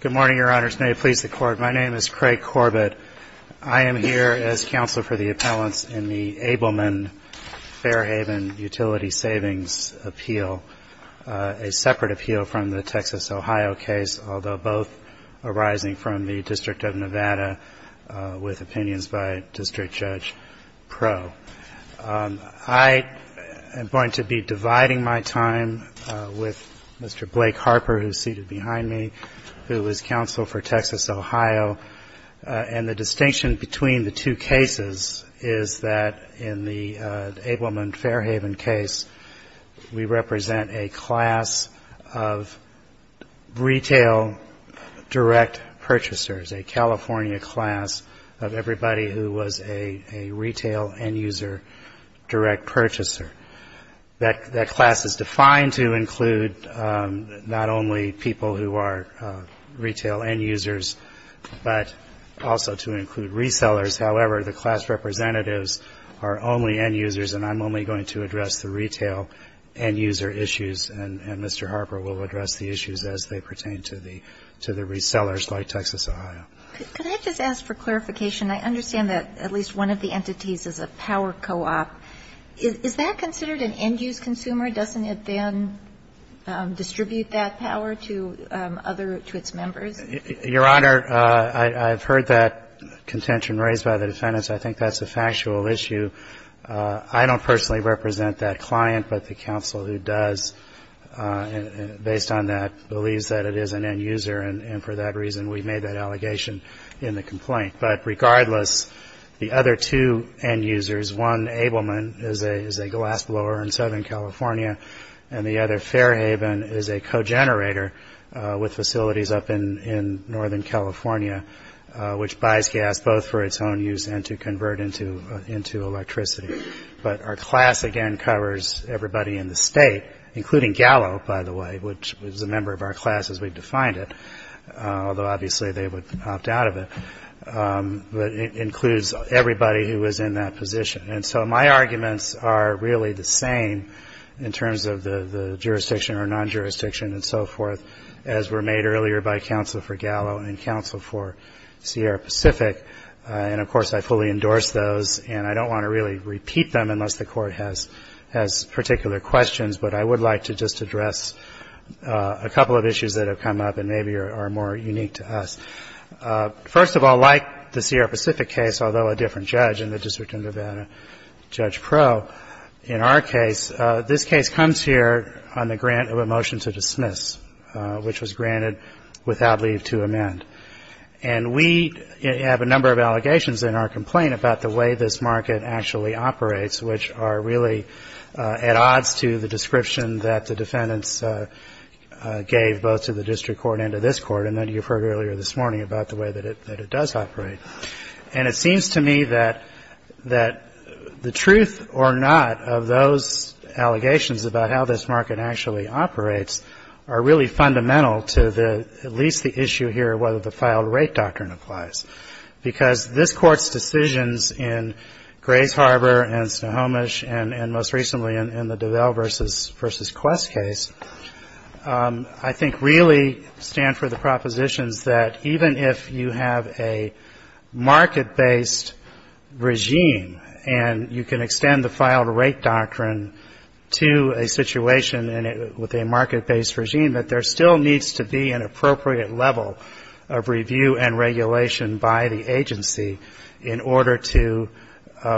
Good morning, Your Honors. May it please the Court, my name is Craig Corbett. I am here as Counsel for the Appellants in the Abelman-Fairhaven Utility Savings Appeal, a separate appeal from the Texas-Ohio case, although both arising from the District of Nevada with opinions by District Judge Pro. I am going to be dividing my time with Mr. Blake Harper, who is seated behind me, who is Counsel for Texas-Ohio, and the distinction between the two cases is that in the Abelman-Fairhaven case, we represent a class of retail direct purchasers, a California class of everybody who was a retail end-user direct purchaser. That class is defined to include not only people who are retail end-users, but also to include resellers. However, the class representatives are only end-users, and I am only going to address the retail end-user issues, and Mr. Harper will address the issues as they pertain to the resellers like Texas-Ohio. Could I just ask for clarification? I understand that at least one of the entities is a power co-op. Is that considered an end-use consumer? Doesn't it then distribute that power to other, to its members? Your Honor, I've heard that contention raised by the defendants. I think that's a factual issue. I don't personally represent that client, but the counsel who does, based on that, believes that it is an end-user, and for that reason, we made that allegation in the complaint. But regardless, the other two end-users, one, Abelman, is a glassblower in Southern California, and the other, Fairhaven, is a co-generator with facilities up in Northern California, which buys gas both for its own use and to convert into electricity. But our position, as a member of our class, as we've defined it, although obviously they would opt out of it, but it includes everybody who is in that position. And so my arguments are really the same in terms of the jurisdiction or non-jurisdiction and so forth as were made earlier by counsel for Gallo and counsel for Sierra Pacific. And, of course, I fully endorse those, and I don't want to really repeat them unless the Court has particular questions, but I would like to just address a couple of issues that have come up and maybe are more unique to us. First of all, like the Sierra Pacific case, although a different judge in the District of Nevada, Judge Pro, in our case, this case comes here on the grant of a motion to dismiss, which was granted without leave to amend. And we have a number of allegations in our case about how this market actually operates, which are really at odds to the description that the defendants gave both to the district court and to this court, and that you've heard earlier this morning about the way that it does operate. And it seems to me that the truth or not of those allegations about how this market actually operates are really fundamental to at least the issue here of whether the filed rate doctrine applies, because this Court's decisions in Grays Harbor and Snohomish and most recently in the DuVal v. Quest case, I think really stand for the propositions that even if you have a market-based regime and you can extend the filed rate doctrine to a situation with a market-based regime, that there still needs to be an appropriate level of review and regulation by the agency in order to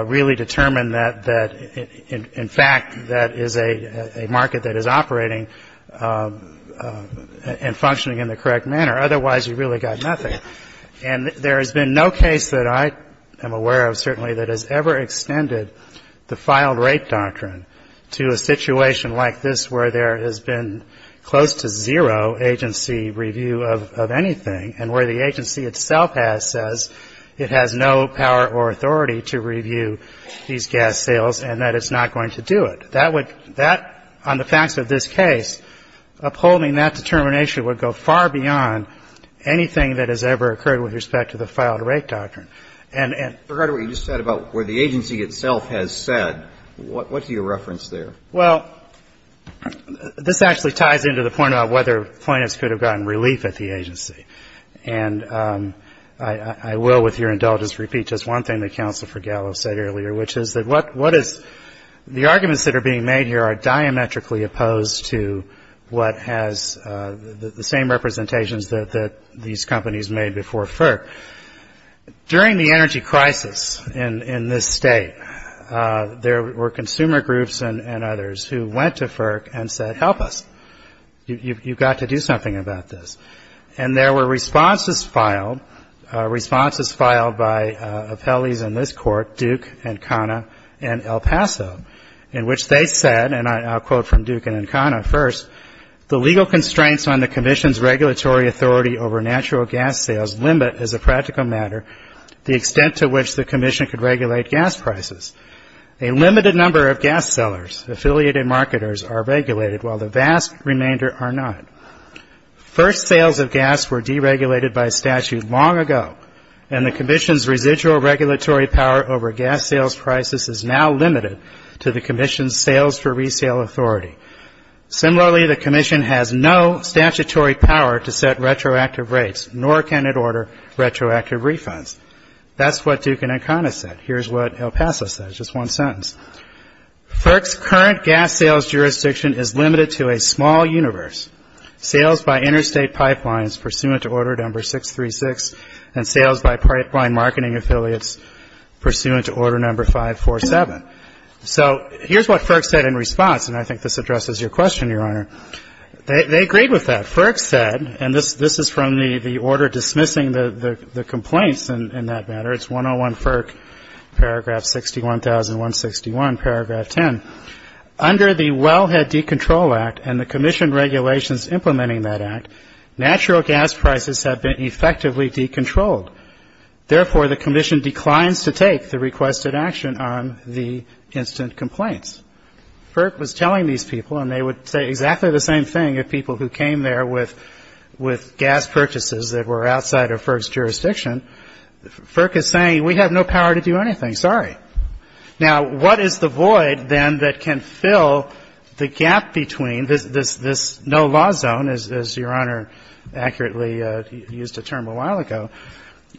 really determine that, in fact, that is a market that is operating and functioning in the correct manner. Otherwise, you've really got nothing. And there has been no case that I am aware of, certainly, that has ever extended the filed rate doctrine to a situation like this where there has been close to zero agency review of anything and where the agency itself has says it has no power or authority to review these gas sales and that it's not going to do it. That would — that, on the facts of this case, upholding that determination would go far beyond anything that has ever occurred with respect to the filed rate doctrine. And — And regarding what you just said about where the agency itself has said, what do you reference there? Well, this actually ties into the point about whether plaintiffs could have gotten relief at the agency. And I will, with your indulgence, repeat just one thing that Counsel for Gallo said earlier, which is that what is — the arguments that are being made here are diametrically opposed to what has — the same representations that these companies made before FERC. During the energy crisis in this state, there were consumer groups and others who went to FERC and said, help us. You've got to do something about this. And there were responses filed — responses filed by appellees in this court, Duke and Kana and El Paso, in which they said — and I'll quote from Duke and Kana first — the legal constraints on the Commission's regulatory authority over natural gas sales limit, as a practical matter, the extent to which the Commission could regulate gas prices. A limited number of gas sellers, affiliated marketers, are regulated, while the vast remainder are not. First sales of gas were deregulated by statute long ago, and the Commission's residual regulatory power over gas sales prices is now limited to the Commission's sales for resale authority. Similarly, the Commission has no statutory power to set retroactive rates, nor can it order retroactive refunds. That's what Duke and Kana said. Here's what El Paso said. Just one sentence. FERC's current gas sales jurisdiction is limited to a small universe. Sales by interstate pipelines pursuant to order number 636, and sales by pipeline marketing affiliates pursuant to order number 547. So here's what FERC said in response, and I think this addresses your question, Your Honor. They agreed with that. FERC said — and this is from the order dismissing the complaints, in that matter. It's 101 FERC, paragraph 61,161, paragraph 10. Under the Wellhead Decontrol Act and the Commission regulations implementing that act, natural gas prices have been effectively decontrolled. Therefore, the Commission declines to take the requested action on the instant complaints. FERC was telling these people, and they would say exactly the same thing if people who came there with gas purchases that were outside of FERC's jurisdiction — FERC is saying, we have no power to do anything. Sorry. Now what is the void, then, that can fill the gap between this no-law zone, as Your Honor accurately used a term a while ago?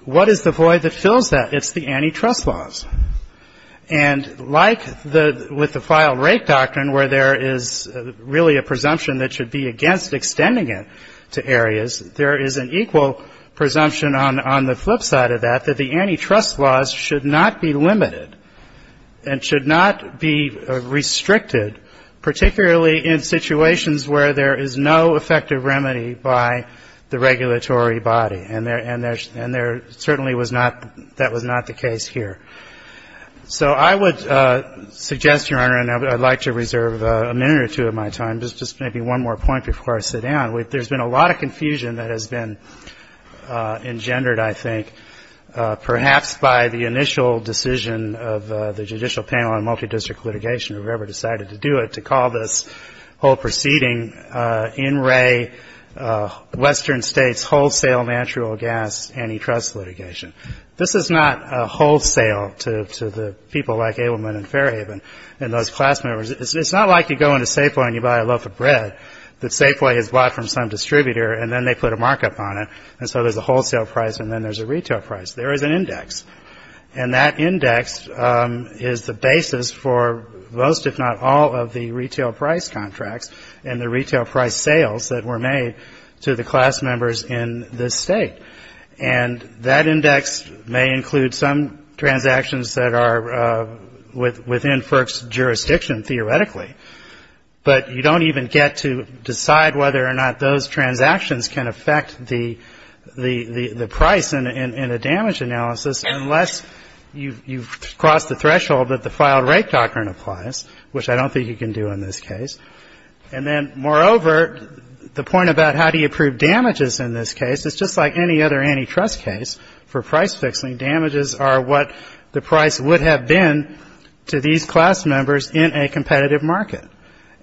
What is the void that fills that? It's the antitrust laws. And like the — with the file rate doctrine, where there is really a presumption that should be against extending it to areas, there is an equal presumption on the flip side of that, that the antitrust laws should not be limited and should not be restricted, particularly in situations where there is no effective remedy by the case here. So I would suggest, Your Honor, and I would like to reserve a minute or two of my time, just maybe one more point before I sit down. There has been a lot of confusion that has been engendered, I think, perhaps by the initial decision of the Judicial Panel on Multidistrict Litigation, whoever decided to do it, to call this whole proceeding in re Western States wholesale natural gas antitrust litigation. This is not wholesale to the people like Abelman and Fairhaven and those class members. It's not like you go into Safeway and you buy a loaf of bread that Safeway has bought from some distributor, and then they put a markup on it, and so there's a wholesale price and then there's a retail price. There is an index. And that index is the basis for most, if not all, of the retail price contracts and the retail price sales that were made to the class members in this State. And that index may include some transactions that are within FERC's jurisdiction, theoretically, but you don't even get to decide whether or not those transactions can affect the price in a damage analysis unless you cross the threshold that the filed rate doctrine applies, which I don't think you can do in this case. And then, moreover, the point about how do you prove damages in this case, it's just like any other antitrust case for price fixing. Damages are what the price would have been to these class members in a competitive market.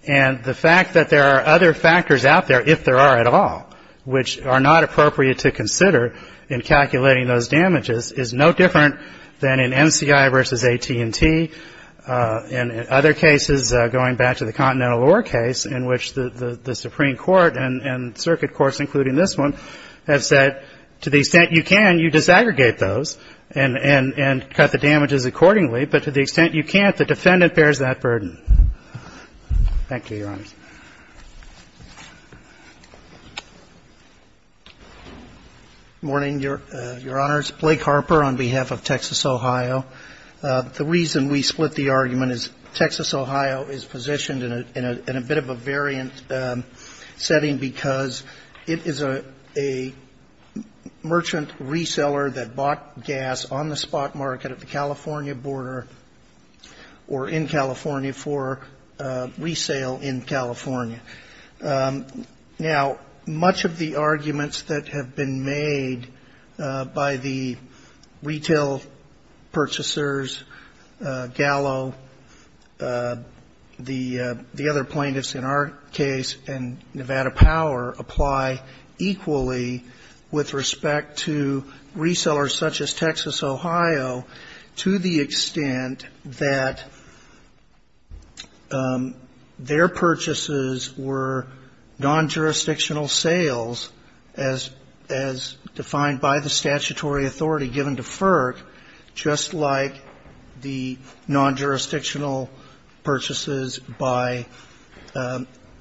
And the fact that there are other factors out there, if there are at all, which are not appropriate to consider in calculating those damages, is no different than in MCI versus AT&T and other cases going back to the Continental Ore case in which the Supreme Court and circuit courts, including this one, have said, to the extent you can, you disaggregate those and cut the damages accordingly. But to the extent you can't, the defendant bears that burden. Thank you, Your Honors. MR. HARPER. Good morning, Your Honors. Blake Harper on behalf of Texas, Ohio. The reason we split the argument is Texas, Ohio is positioned in a bit of a variant setting because it is a merchant reseller that bought gas on the spot market at the California border or in California for resale in California. Now, much of the arguments that have been made by the retail purchasers have been based on the fact that the California Gallo, the other plaintiffs in our case, and Nevada Power apply equally with respect to resellers such as Texas, Ohio, to the extent that their purchases were non-jurisdictional sales as defined by the statutory authority given to FERC, just like the non-jurisdictional purchases by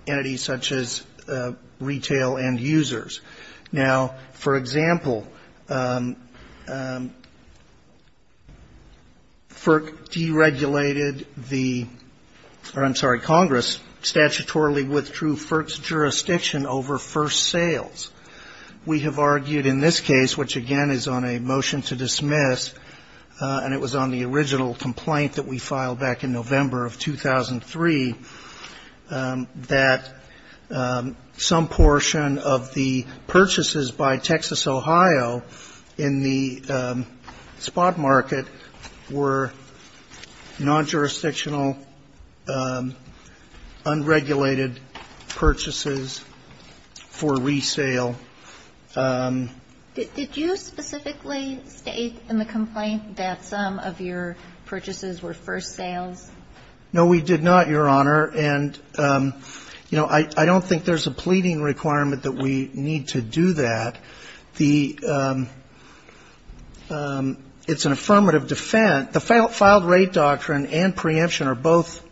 entities such as retail end users. Now, for example, FERC deregulated the or, I'm sorry, Congress statutorily withdrew FERC's jurisdiction over first sales. We have argued in this case, which again is on a motion to dismiss, and it was on the original complaint that we filed back in November of 2003, that some portion of the purchases by Texas, Ohio in the spot market were non-jurisdictional, unregulated purchases for resale. Kagan. Did you specifically state in the complaint that some of your purchases were first sales? No, we did not, Your Honor. And, you know, I don't think there's a pleading requirement that we need to do that. The It's an affirmative defense. The filed rate doctrine and preemption are both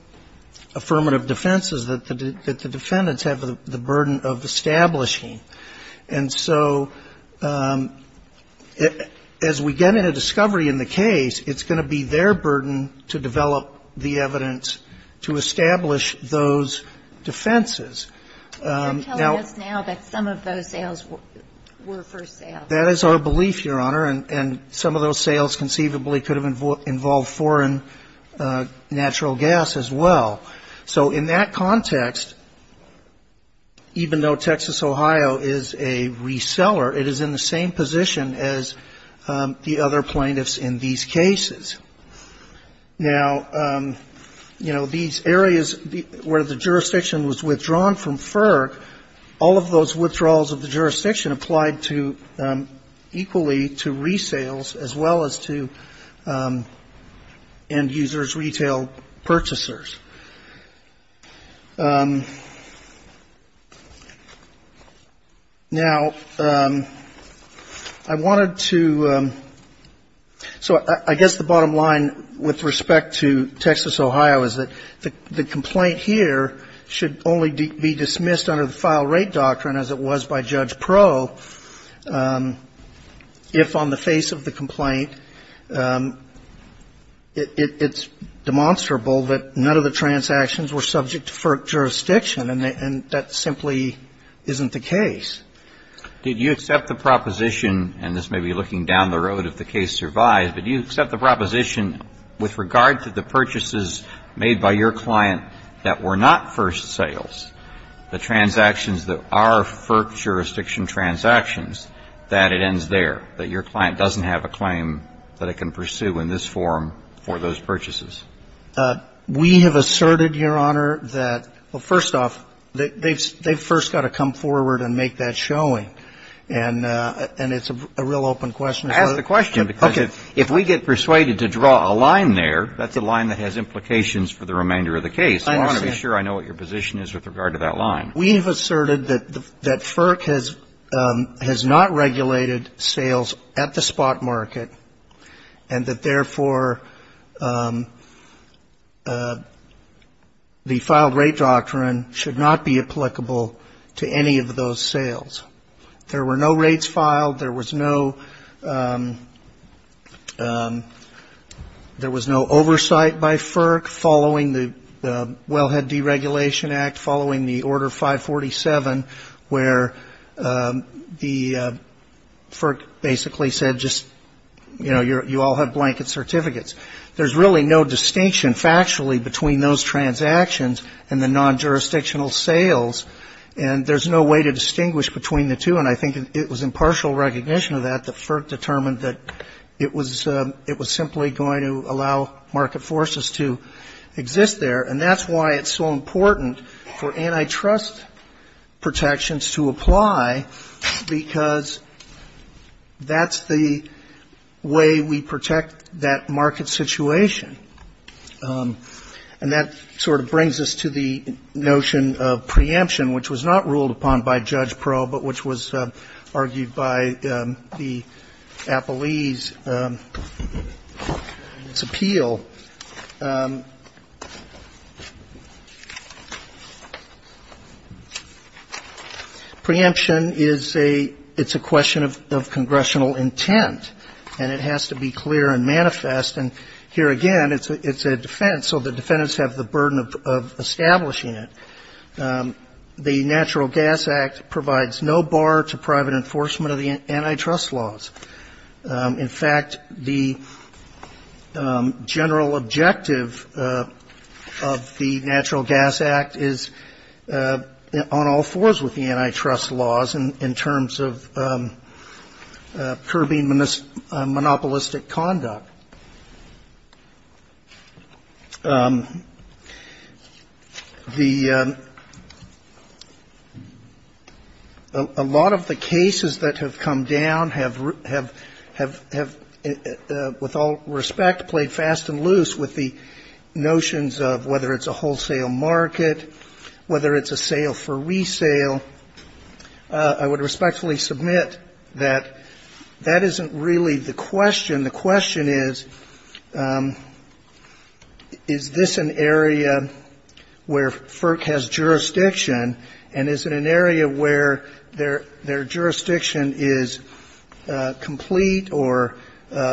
affirmative defenses that the defendants have the burden of establishing. And so as we get into discovery in the case, it's going to be their burden to develop the evidence to establish those defenses. You're telling us now that some of those sales were first sales. That is our belief, Your Honor, and some of those sales conceivably could have involved foreign natural gas as well. So in that context, even though Texas, Ohio is a reseller, it is in the same position as the other plaintiffs in these cases. Now, you know, these areas where the jurisdiction was withdrawn from FERC, all of those withdrawals of the jurisdiction applied to equally to end-users, retail purchasers. Now, I wanted to so I guess the bottom line with respect to Texas, Ohio, is that the complaint here should only be dismissed under the file rate doctrine as it was by Judge Pro if on the face of the matter, it's demonstrable that none of the transactions were subject to FERC jurisdiction. And that simply isn't the case. Did you accept the proposition, and this may be looking down the road if the case survives, but do you accept the proposition with regard to the purchases made by your client that were not first sales, the transactions that are FERC jurisdiction transactions, that it ends there, that your client doesn't have a claim that it can pursue in this form for those purchases? We have asserted, Your Honor, that, well, first off, they've first got to come forward and make that showing. And it's a real open question. I ask the question because if we get persuaded to draw a line there, that's a line that has implications for the remainder of the case. I want to be sure I know what your position is with regard to that line. We have asserted that FERC has not regulated sales at the spot market, and that, therefore, the file rate doctrine should not be applicable to any of those sales. There were no rates filed. There was no oversight by FERC following the Wellhead Deregulation Act, following the Order 547, where the FERC basically said just, you know, you all have blanket certificates. There's really no distinction factually between those transactions and the non-jurisdictional sales, and there's no way to distinguish between the two. And I think it was in partial recognition of that that FERC determined that it was simply going to allow market forces to exist there. And that's why it's so important for antitrust protections to apply, because that's the way we protect that market situation. And that sort of brings us to the notion of preemption, which was not ruled upon by Judge Pearl, but which was argued by the defense. Preemption is a question of congressional intent, and it has to be clear and manifest. And here again, it's a defense, so the defendants have the burden of establishing it. The Natural Gas Act provides no bar to private enforcement of the antitrust laws. In fact, the general objective of the Natural Gas Act is on all fours with the antitrust laws in terms of curbing monopolistic conduct. Now, a lot of the cases that have come down have, with all respect, played fast and loose with the notions of whether it's a wholesale market, whether it's a sale for resale. I would respectfully submit that that isn't really the question. The question is, is this an area where FERC has jurisdiction, and is it an area where their jurisdiction is complete or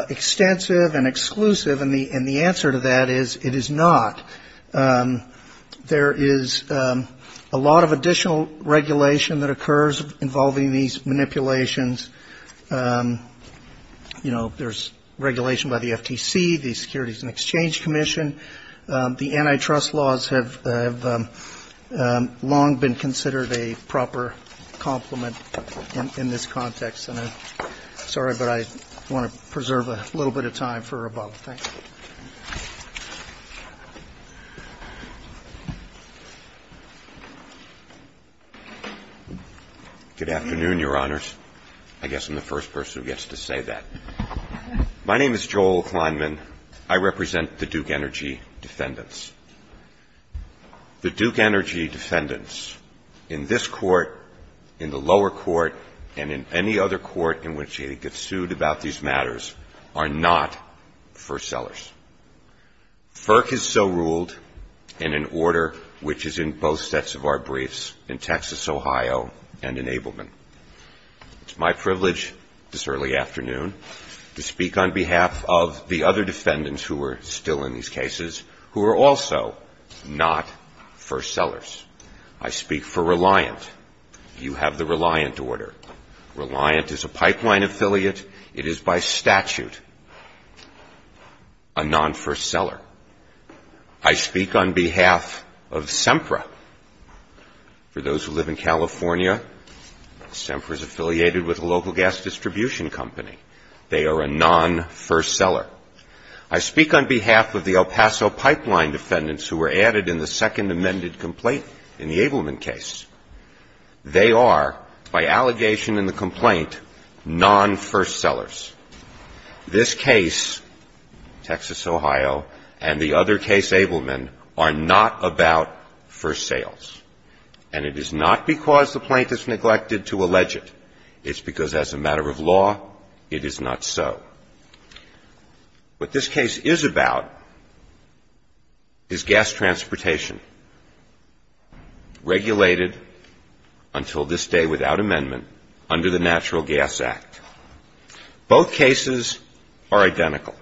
extensive and exclusive? And the answer to that is it is not. There is a lot of additional regulation that occurs involving these manipulations. You know, there's regulation by the FTC, the Securities and Exchange Commission. The antitrust laws have long been considered a proper complement in this context. And I'm sorry, but I want to preserve a little bit of time for rebuttal. Thank you. Good afternoon, Your Honors. I guess I'm the first person who gets to say that. My name is Joel Kleinman. I represent the Duke Energy defendants. The Duke Energy defendants in this Court, in the lower court, and in any other court in which they get sued about these matters are not first-sellers. FERC is so ruled in an order which is in both sets of our briefs, in Texas, Ohio, and in Ableman. It's my privilege this early afternoon to speak on behalf of the other defendants who are still in these cases, who are also not first-sellers. I speak for Reliant. You have the Reliant order. Reliant is a pipeline affiliate. It is by statute unconstitutional. They are a non-first-seller. I speak on behalf of SEMPRA. For those who live in California, SEMPRA is affiliated with a local gas distribution company. They are a non-first-seller. I speak on behalf of the El Paso pipeline defendants who were added in the second amended complaint in the Ableman case. They are, by allegation in the complaint, non-first-sellers. This case, Texas, Ohio, and the other case, Ableman, are not about first sales. And it is not because the plaintiff's neglected to allege it. It's because as a matter of law, it is not so. What this case is about is gas transportation regulated until this day without amendment under the Natural Gas Act. Both cases are identical.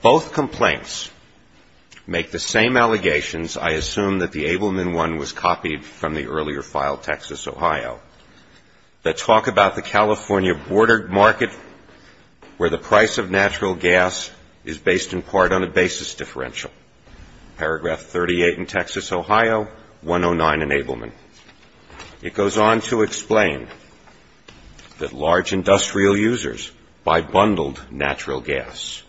Both complaints make the same allegations. I assume that the Ableman one was copied from the earlier file, Texas, Ohio, that talk about the California border market where the price of natural gas is based in part on a basis differential. Paragraph 38 in Texas, Ohio, 109 in Ableman. It goes on to explain that large industrial users buy bundled natural gas.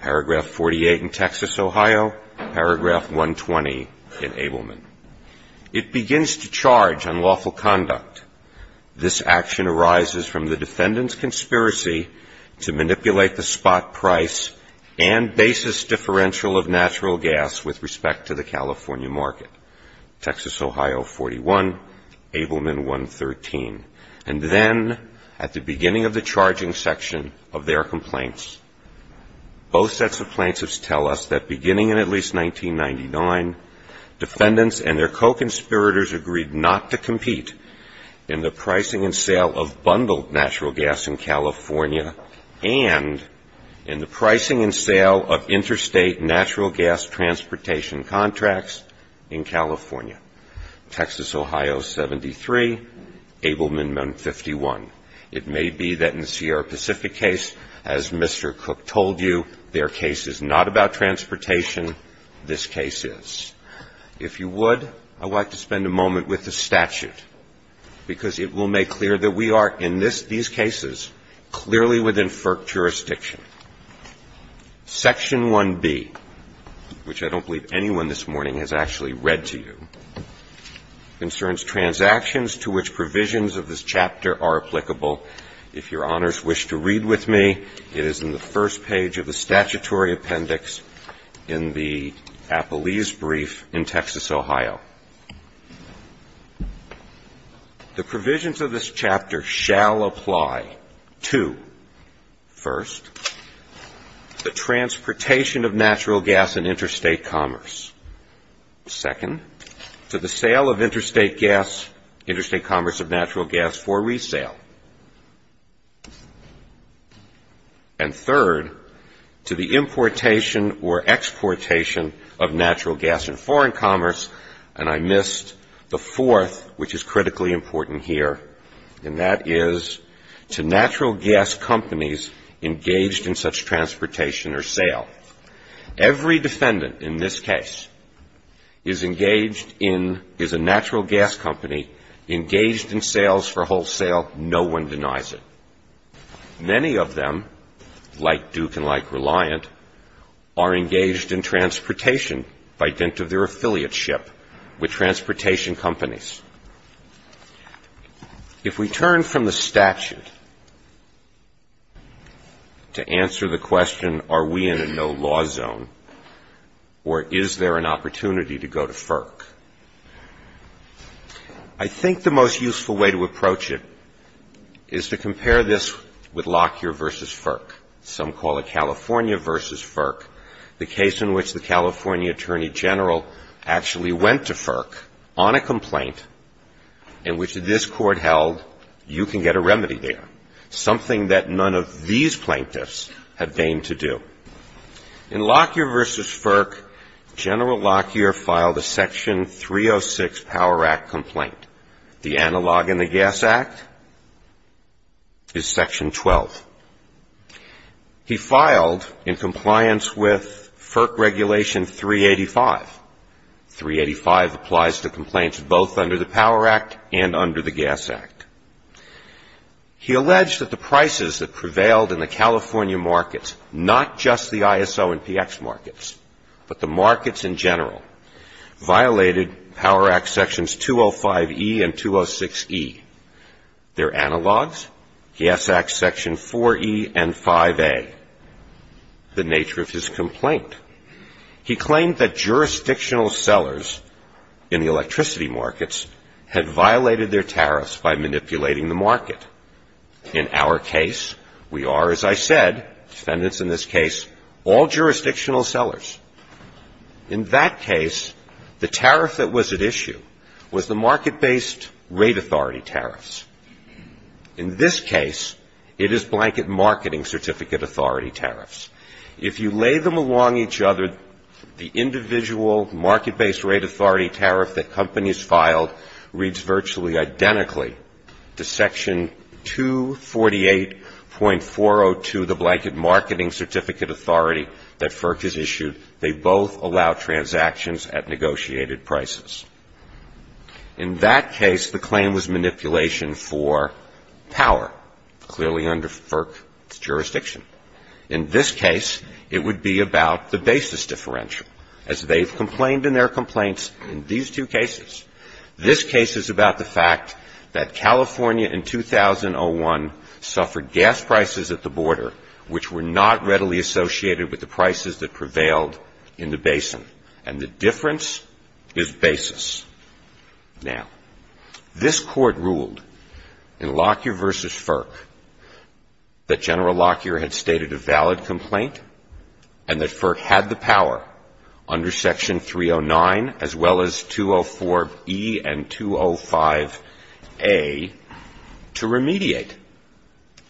Paragraph 48 in Texas, Ohio, paragraph 120 in Ableman. It begins to charge unlawful conduct. This action arises from the defendant's conspiracy to manipulate the spot price and basis differential of natural gas with respect to the California market. Texas, Ohio, 40. Paragraph 49 in Texas, Ohio, 109 in Ableman. And then at the beginning of the charging section of their complaints, both sets of plaintiffs tell us that beginning in at least 1999, defendants and their co-conspirators agreed not to compete in the pricing and sale of bundled natural gas in California and in the pricing and sale of interstate natural gas transportation contracts in California. Texas, Ohio, 73. Ableman, 51. It may be that in the Sierra Pacific case, as Mr. Cook told you, their case is not about transportation. This case is. If you would, I would like to spend a moment with the statute, because it will make clear that we are in these cases clearly within FERC jurisdiction. Section 1B, which I don't believe anyone this morning has actually read to you, concerns transactions to which provisions of this chapter are applicable. If your honors wish to read with me, it is in the first page of the statutory appendix in the Appalese brief in Texas, Ohio. The provisions of this chapter shall apply to, first, the transportation of natural gas in interstate commerce, second, to the sale of interstate gas, interstate commerce of natural gas for resale, and third, to the importation or exportation of natural gas in foreign commerce, and I missed the fourth, which is critically important here, and that is to natural gas companies engaging in the exportation of natural gas in foreign commerce. In this case, it's a natural gas company engaged in such transportation or sale. Every defendant in this case is engaged in, is a natural gas company engaged in sales for wholesale. No one denies it. Many of them, like Duke and like Reliant, are engaged in transportation by dint of their affiliateship with transportation companies. If we turn from the statute to the statute, we are in a no-law zone. And the question is, is there a way to answer the question, are we in a no-law zone, or is there an opportunity to go to FERC? I think the most useful way to approach it is to compare this with Lockyer v. FERC. Some call it California v. FERC. The case in which the California attorney general actually went to FERC on a complaint in which this court held, you can get a remedy there, something that none of these plaintiffs have deigned to do. In Lockyer v. FERC, General Lockyer filed a Section 306 Power Act complaint. The analog in the Gas Act is Section 12. He filed in compliance with FERC Regulation 385. 385 applies to complaints both under the Power Act and under the Gas Act, and the FERC Regulation 385 applies to complaints both under the Power Act and under the Gas Act. He alleged that the prices that prevailed in the California markets, not just the ISO and PX markets, but the markets in general, violated Power Act Sections 205E and 206E. They're analogs. He asked Section 4E and 5A, the nature of his complaint. He claimed that jurisdictional sellers in the electricity markets had violated their tariffs by manipulating the market. In our case, we are, as I said, defendants in this case, all jurisdictional sellers. In that case, the tariff that was at issue was the market-based rate authority tariffs. In this case, it is blanket marketing certificate authority tariffs. If you lay them along each other, the individual market-based rate authority tariff that companies filed reads virtually identically to Section 248.402, the blanket marketing certificate authority that FERC has issued. They both allow transactions at negotiated prices. In that case, the claim was manipulation for power, clearly under FERC jurisdiction. In this case, it would be about the basis differential, as they've complained in their complaints in these two cases. This case is about the fact that California in 2001 suffered gas prices at the border which were not readily associated with the prices that prevailed in the basin. And the difference is basis. Now, this Court ruled in Lockyer v. FERC that General Lockyer had stated a valid complaint and that FERC had the power to remediate under Section 309, as well as 204e and 205a, to remediate,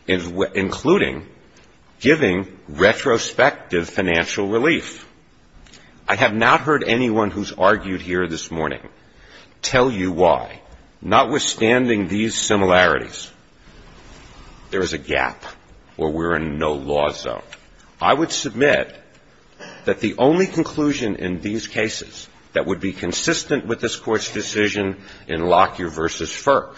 including giving retrospective financial relief. I have not heard anyone who's argued here this morning tell you why, notwithstanding these similarities. There is a gap, or we're in no law that would allow for this to happen. So I would submit that the only conclusion in these cases that would be consistent with this Court's decision in Lockyer v. FERC,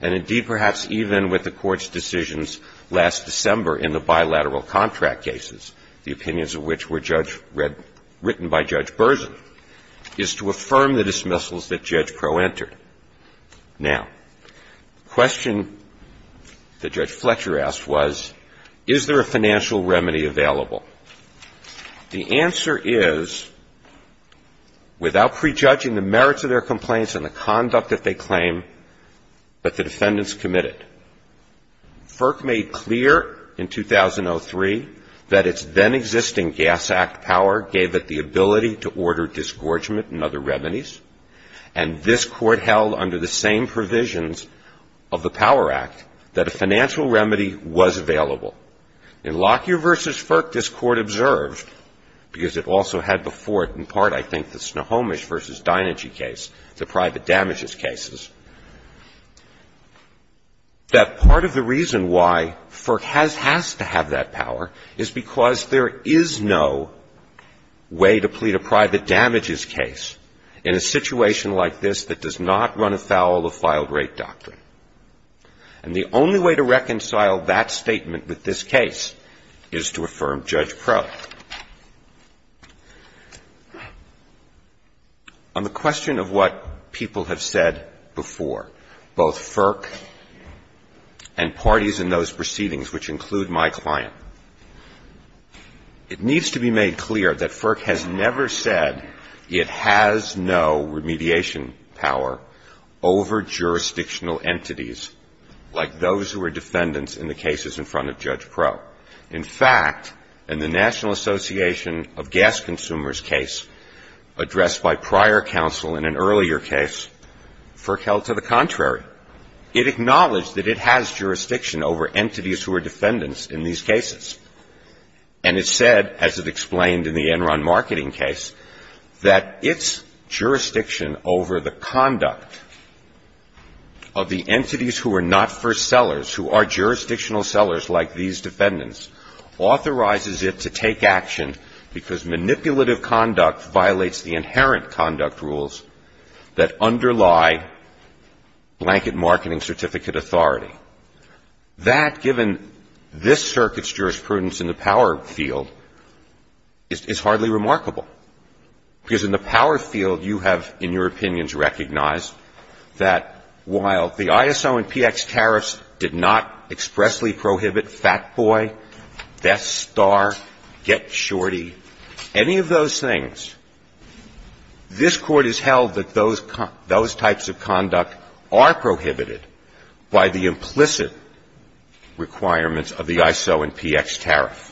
and indeed perhaps even with the Court's decisions last December in the bilateral contract cases, the opinions of which were written by Judge Berzin, is to affirm the dismissals that Judge Crowe entered. Now, why was this remedy available? The answer is, without prejudging the merits of their complaints and the conduct that they claim, but the defendants committed. FERC made clear in 2003 that its then-existing Gas Act power gave it the ability to order disgorgement and other remedies, and this Court held under the same provisions of the Power Act that a financial remedy was available. In Lockyer v. FERC, this Court observed, because it also had before it in part, I think, the Snohomish v. Dinegy case, the private damages cases, that part of the reason why FERC has to have that power is because there is no way to plead a private damages case in a situation like this that does not run afoul of filed-rate doctrine. And the only way to reconcile that statement with this case is to affirm Judge Crowe. On the question of what people have said before, both FERC and parties in those proceedings, which include my client, it needs to be made clear that FERC has never said it has no remediation power over jurisdictional entities like those who are defendants in the cases in front of Judge Crowe. In fact, in the National Association of Gas Consumers case addressed by prior counsel in an earlier case, FERC held to the contrary. It acknowledged that it has jurisdiction over entities who are defendants in these cases. And it said, as it explained in the Enron Marketing case, that its jurisdiction over the conduct of the entities who are not first sellers, who are jurisdictional sellers like these defendants, authorizes it to take action because manipulative conduct violates the inherent conduct rules that underlie blanket marketing certificate authority. That, given this circuit's jurisprudence in the power field, is hardly remarkable, because in the power field you have, in your opinions, recognized that while the ISO and PX tariffs did not expressly prohibit Fat Boy, Death Star, Get Shorty, any of those things, this Court has held that those types of conduct are prohibited by the implicit requirements of the ISO and PX tariff.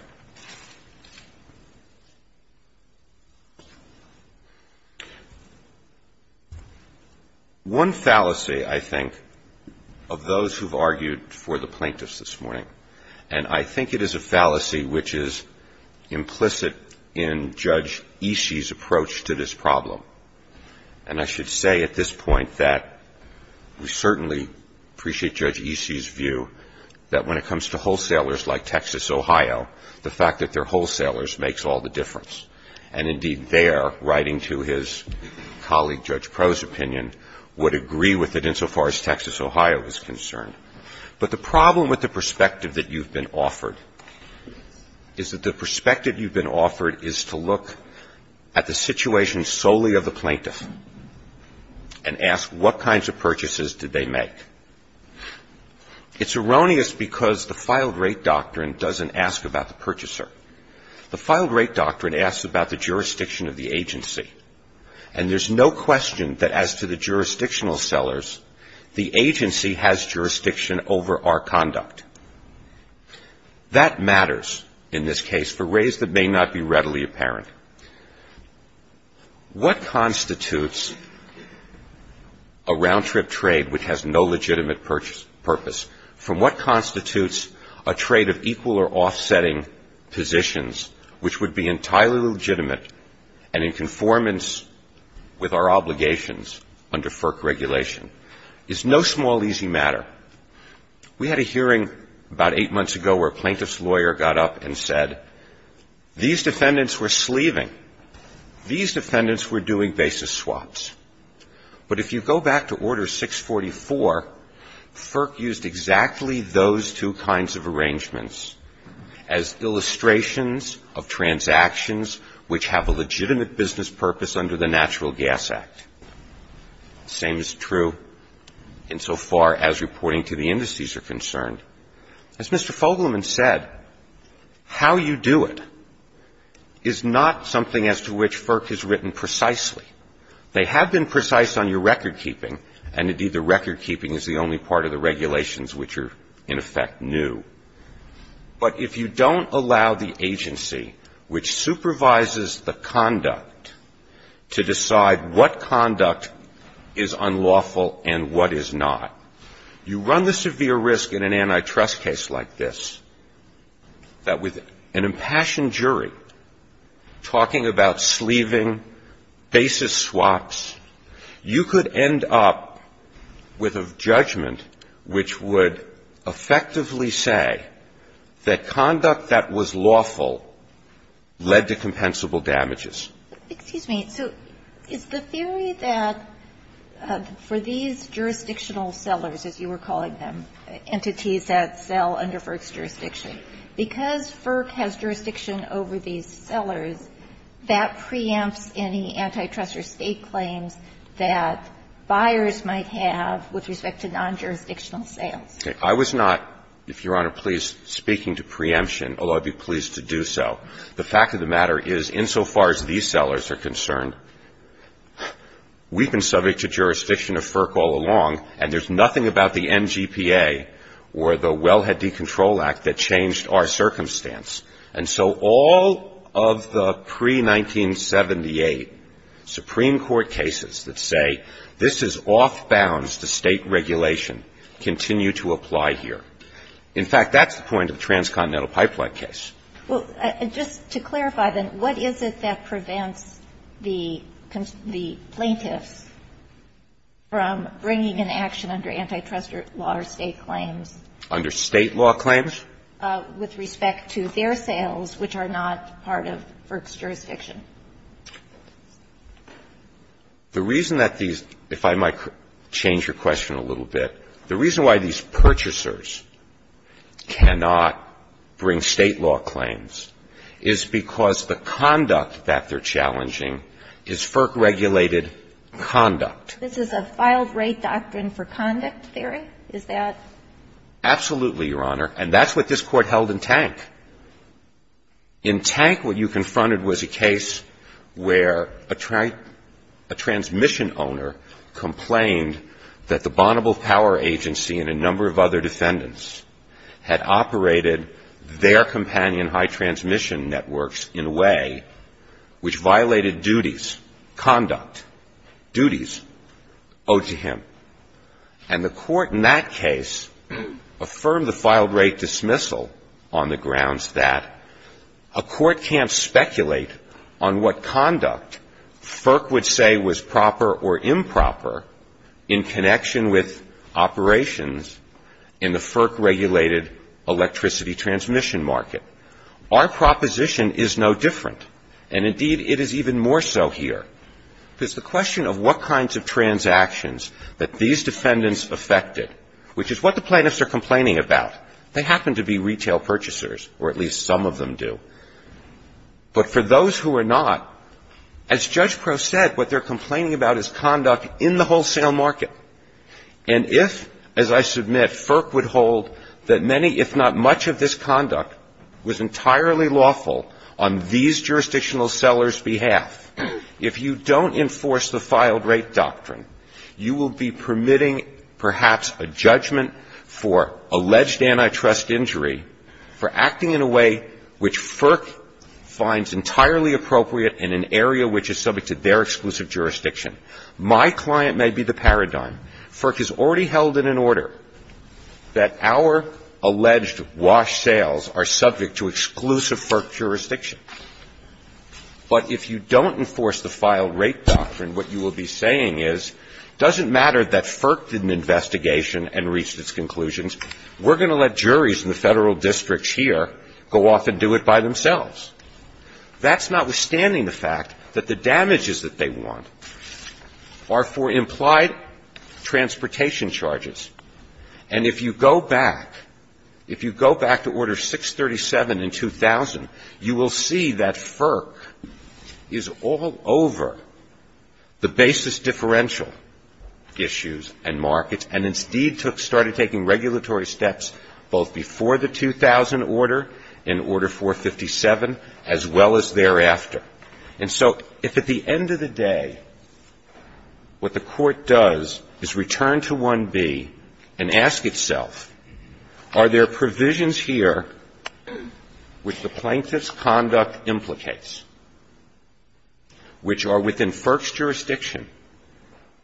One fallacy, I think, of those who have argued for the plaintiffs this morning, and I think it is a fallacy which is implicit in Judge Isi's approach to this problem, and I should say at this point that we certainly appreciate Judge Isi's view that when it comes to wholesalers like Texas, Ohio, the fact that they're wholesalers makes all the difference. And, indeed, there, writing to his colleague Judge Proh's opinion, would agree with it insofar as Texas, Ohio is concerned. But the problem with the perspective that you've been offered is that the perspective you've been offered is to look at the situation solely of the plaintiff and ask what kinds of purchases did they make. It's erroneous because the filed-rate doctrine doesn't ask about the purchaser. The filed-rate doctrine asks about the jurisdiction of the agency. And there's no question that as to the jurisdictional sellers, the agency has jurisdiction over our conduct. That matters in this case for ways that may not be readily apparent. What constitutes a round-trip trade which has no legitimate purpose? From what constitutes a trade of equal or offsetting positions which would be entirely legitimate and in conformance with our obligations under FERC regulation? It's no small, easy matter. We had a hearing about eight months ago where a plaintiff's lawyer got up and said, these defendants were sleeving. These defendants were doing basis swaps. But if you go back to Order 644, FERC used exactly those two kinds of arrangements as illustrations of transactions which have a legitimate business purpose under the Natural Gas Act. The same is true insofar as reporting to the indices are concerned. As Mr. Fogelman said, how you do it is not something as to which FERC has written precisely. They have been precise on your recordkeeping, and indeed the recordkeeping is the only part of the regulations which are, in effect, new. But if you don't allow the agency which supervises the conduct to decide what conduct is unlawful and what is not, you run the severe risk in an antitrust case like this that with an impassioned jury talking about sleeving, basis swaps, you could end up with a judgment which would effectively say that conduct that was lawful led to compensable damages. Excuse me. So is the theory that for these jurisdictional sellers, as you were calling them, entities that sell under FERC's jurisdiction, because FERC has jurisdiction over these sellers, that preempts any antitrust or state claims that buyers might have with respect to non-jurisdictional sales? I was not, if Your Honor, please, speaking to preemption, although I'd be pleased to do so. The fact of the matter is, insofar as these sellers are concerned, we've been subject to jurisdiction of FERC all along, and there's nothing about the NGPA or the Wellhead Decontrol Act that changed our circumstance. And so all of the pre-1978 Supreme Court cases that say, this is off-balance to state regulation, continue to apply here. In fact, that's the point of the Transcontinental Pipeline case. Well, just to clarify, then, what is it that prevents the plaintiffs from bringing an action under antitrust law or state claims? Under state law claims? With respect to their sales, which are not part of FERC's jurisdiction? The reason that these, if I might change your question a little bit, the reason why these purchasers cannot bring state law claims is because the conduct that they're challenging is FERC-regulated conduct. This is a filed-rate doctrine for conduct theory? Is that? Absolutely, Your Honor. And that's what this Court held in Tank. In Tank, what you confronted was a case where a transmission owner complained that the Bonneville Power Agency and a number of other defendants had operated their companion high-transmission networks in a way which violated duties, conduct, duties owed to him. And the Court in that case affirmed the filed-rate dismissal on the grounds that a court can't speculate on what conduct FERC would say was proper or improper in connection with operations in the FERC-regulated electricity transmission market. Our proposition is no different. And indeed, it is even more so here. Because the question of what kinds of transactions that these defendants affected, which is what the plaintiffs are complaining about, they happen to be retail purchasers, or at least some of them do. But for those who are not, as Judge Prost said, what they're complaining about is conduct in the wholesale market. And if, as I submit, FERC would hold that many, if not much, of this conduct was entirely lawful on these jurisdictional sellers' behalf, if you don't enforce the filed-rate doctrine, you will be permitting perhaps a judgment for alleged antitrust injury for acting in a way which FERC finds entirely appropriate in an area which is subject to their exclusive jurisdiction. My client may be the paradigm. FERC has already held it in order that our alleged wash sales are subject to jurisdiction. But if you don't enforce the filed-rate doctrine, what you will be saying is, doesn't matter that FERC did an investigation and reached its conclusions, we're going to let juries in the Federal Districts here go off and do it by themselves. That's notwithstanding the fact that the damages that they want are for implied transportation charges. And if you go back, if you go back to Order 637 in 2000, you will see that FERC does not enforce the filed-rate doctrine. It is all over the basis differential issues and markets, and instead started taking regulatory steps both before the 2000 order, in Order 457, as well as thereafter. And so if at the end of the day what the Court does is return to 1B and ask itself, are there provisions here which the Court has not yet heard of, which are within FERC's jurisdiction,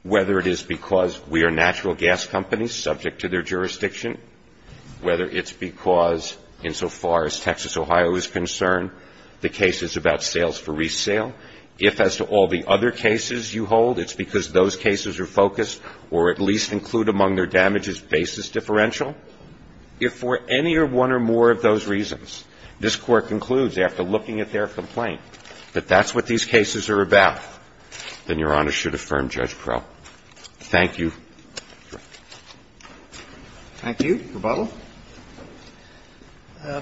whether it is because we are natural gas companies subject to their jurisdiction, whether it's because insofar as Texas, Ohio is concerned, the case is about sales for resale, if as to all the other cases you hold, it's because those cases are focused or at least include among their damages basis differential, if for any one or more of those reasons, this Court concludes after looking at their complaint that that's what these cases are about, then Your Honor should affirm Judge Prel. Thank you. Thank you. Thank you.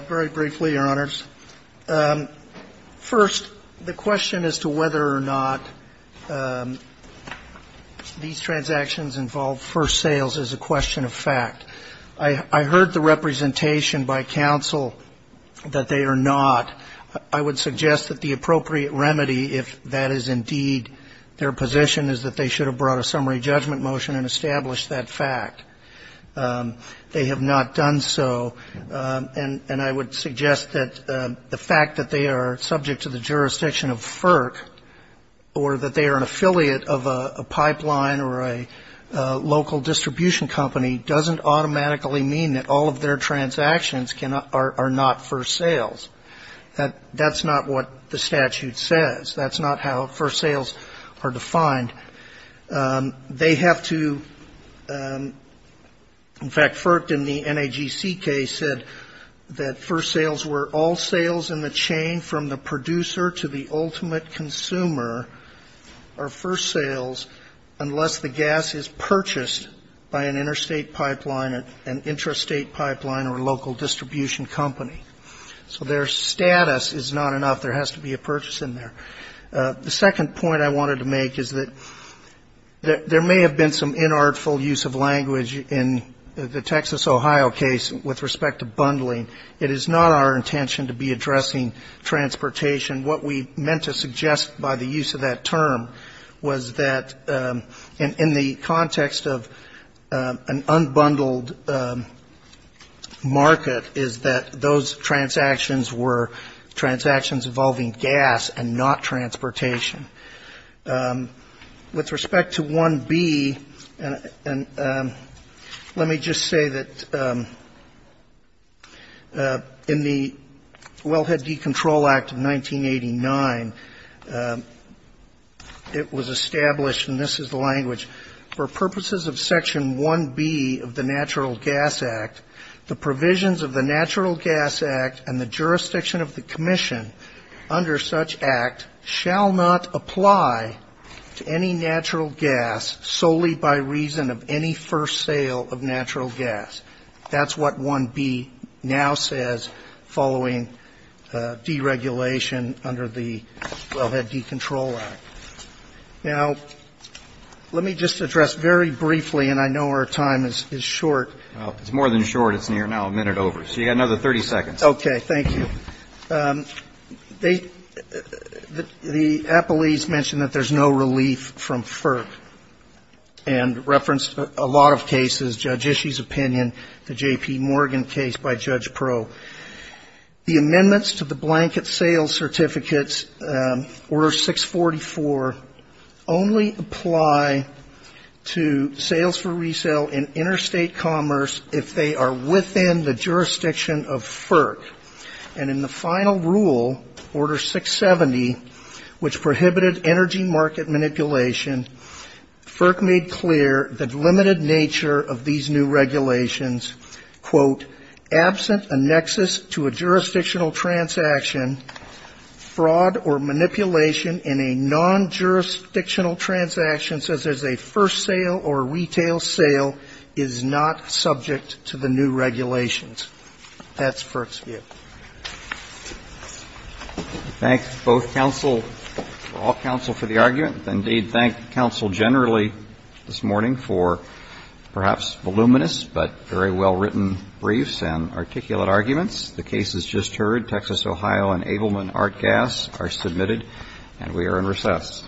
Very briefly, Your Honors. First, the question as to whether or not these transactions involve first sales is a question of fact. I heard the representation by counsel that they are not. I would suggest that the appropriate remedy, if that is indeed their position, is that they should have brought a summary judgment motion and established that fact. They have not done so. And I would suggest that the fact that they are subject to the jurisdiction of FERC, or that they are an affiliate of a pipeline or a local distribution company, doesn't automatically mean that all of their transactions are not first sales. That's not what the question is. That's not what the statute says. That's not how first sales are defined. They have to, in fact, FERC in the NAGC case said that first sales were all sales in the chain from the producer to the ultimate consumer, or first sales, unless the gas is purchased by an interstate pipeline, an intrastate pipeline, or local distribution company. So their status is not enough. There has to be a purchase in there. The second point I wanted to make is that there may have been some inartful use of language in the Texas, Ohio case with respect to bundling. It is not our intention to be addressing transportation. What we meant to suggest by the use of that term was that in the context of an unbundled market is that, you know, there is a need to address transportation. Those transactions were transactions involving gas and not transportation. With respect to 1B, let me just say that in the Wellhead Decontrol Act of 1989, it was established, and this is the language, for purposes of Section 1B of the Natural Gas Act, the provisions of the Natural Gas Act and the jurisdiction of the commission under such act shall not apply to any natural gas solely by reason of any first sale of natural gas. That's what 1B now says following deregulation under the Wellhead Decontrol Act. Now, let me just address very briefly, and I know our time is short. Well, it's more than short. It's now a minute over. So you've got another 30 seconds. Okay. Thank you. The appellees mentioned that there's no relief from FERC and referenced a lot of cases, Judge Ishii's opinion, the J.P. Morgan case by Judge Proulx. The amendments to the Blanket Sales Certificates, Order 644, only apply to sales for resale in interstate commerce if they are within the jurisdiction of FERC. And in the final rule, Order 670, which prohibited energy market manipulation, FERC made clear the limited nature of these new regulations, quote, absent a nexus to a jurisdictional transaction, fraud or manipulation in a non-regulatory manner, and non-jurisdictional transactions, as is a first sale or retail sale, is not subject to the new regulations. That's FERC's view. Thank both counsel, all counsel for the argument. Indeed, thank counsel generally this morning for perhaps voluminous, but very well-written briefs and articulate arguments. The cases just heard, Texas, Ohio, and Abelman Art Gas, are submitted, and we are in recess. Thank you.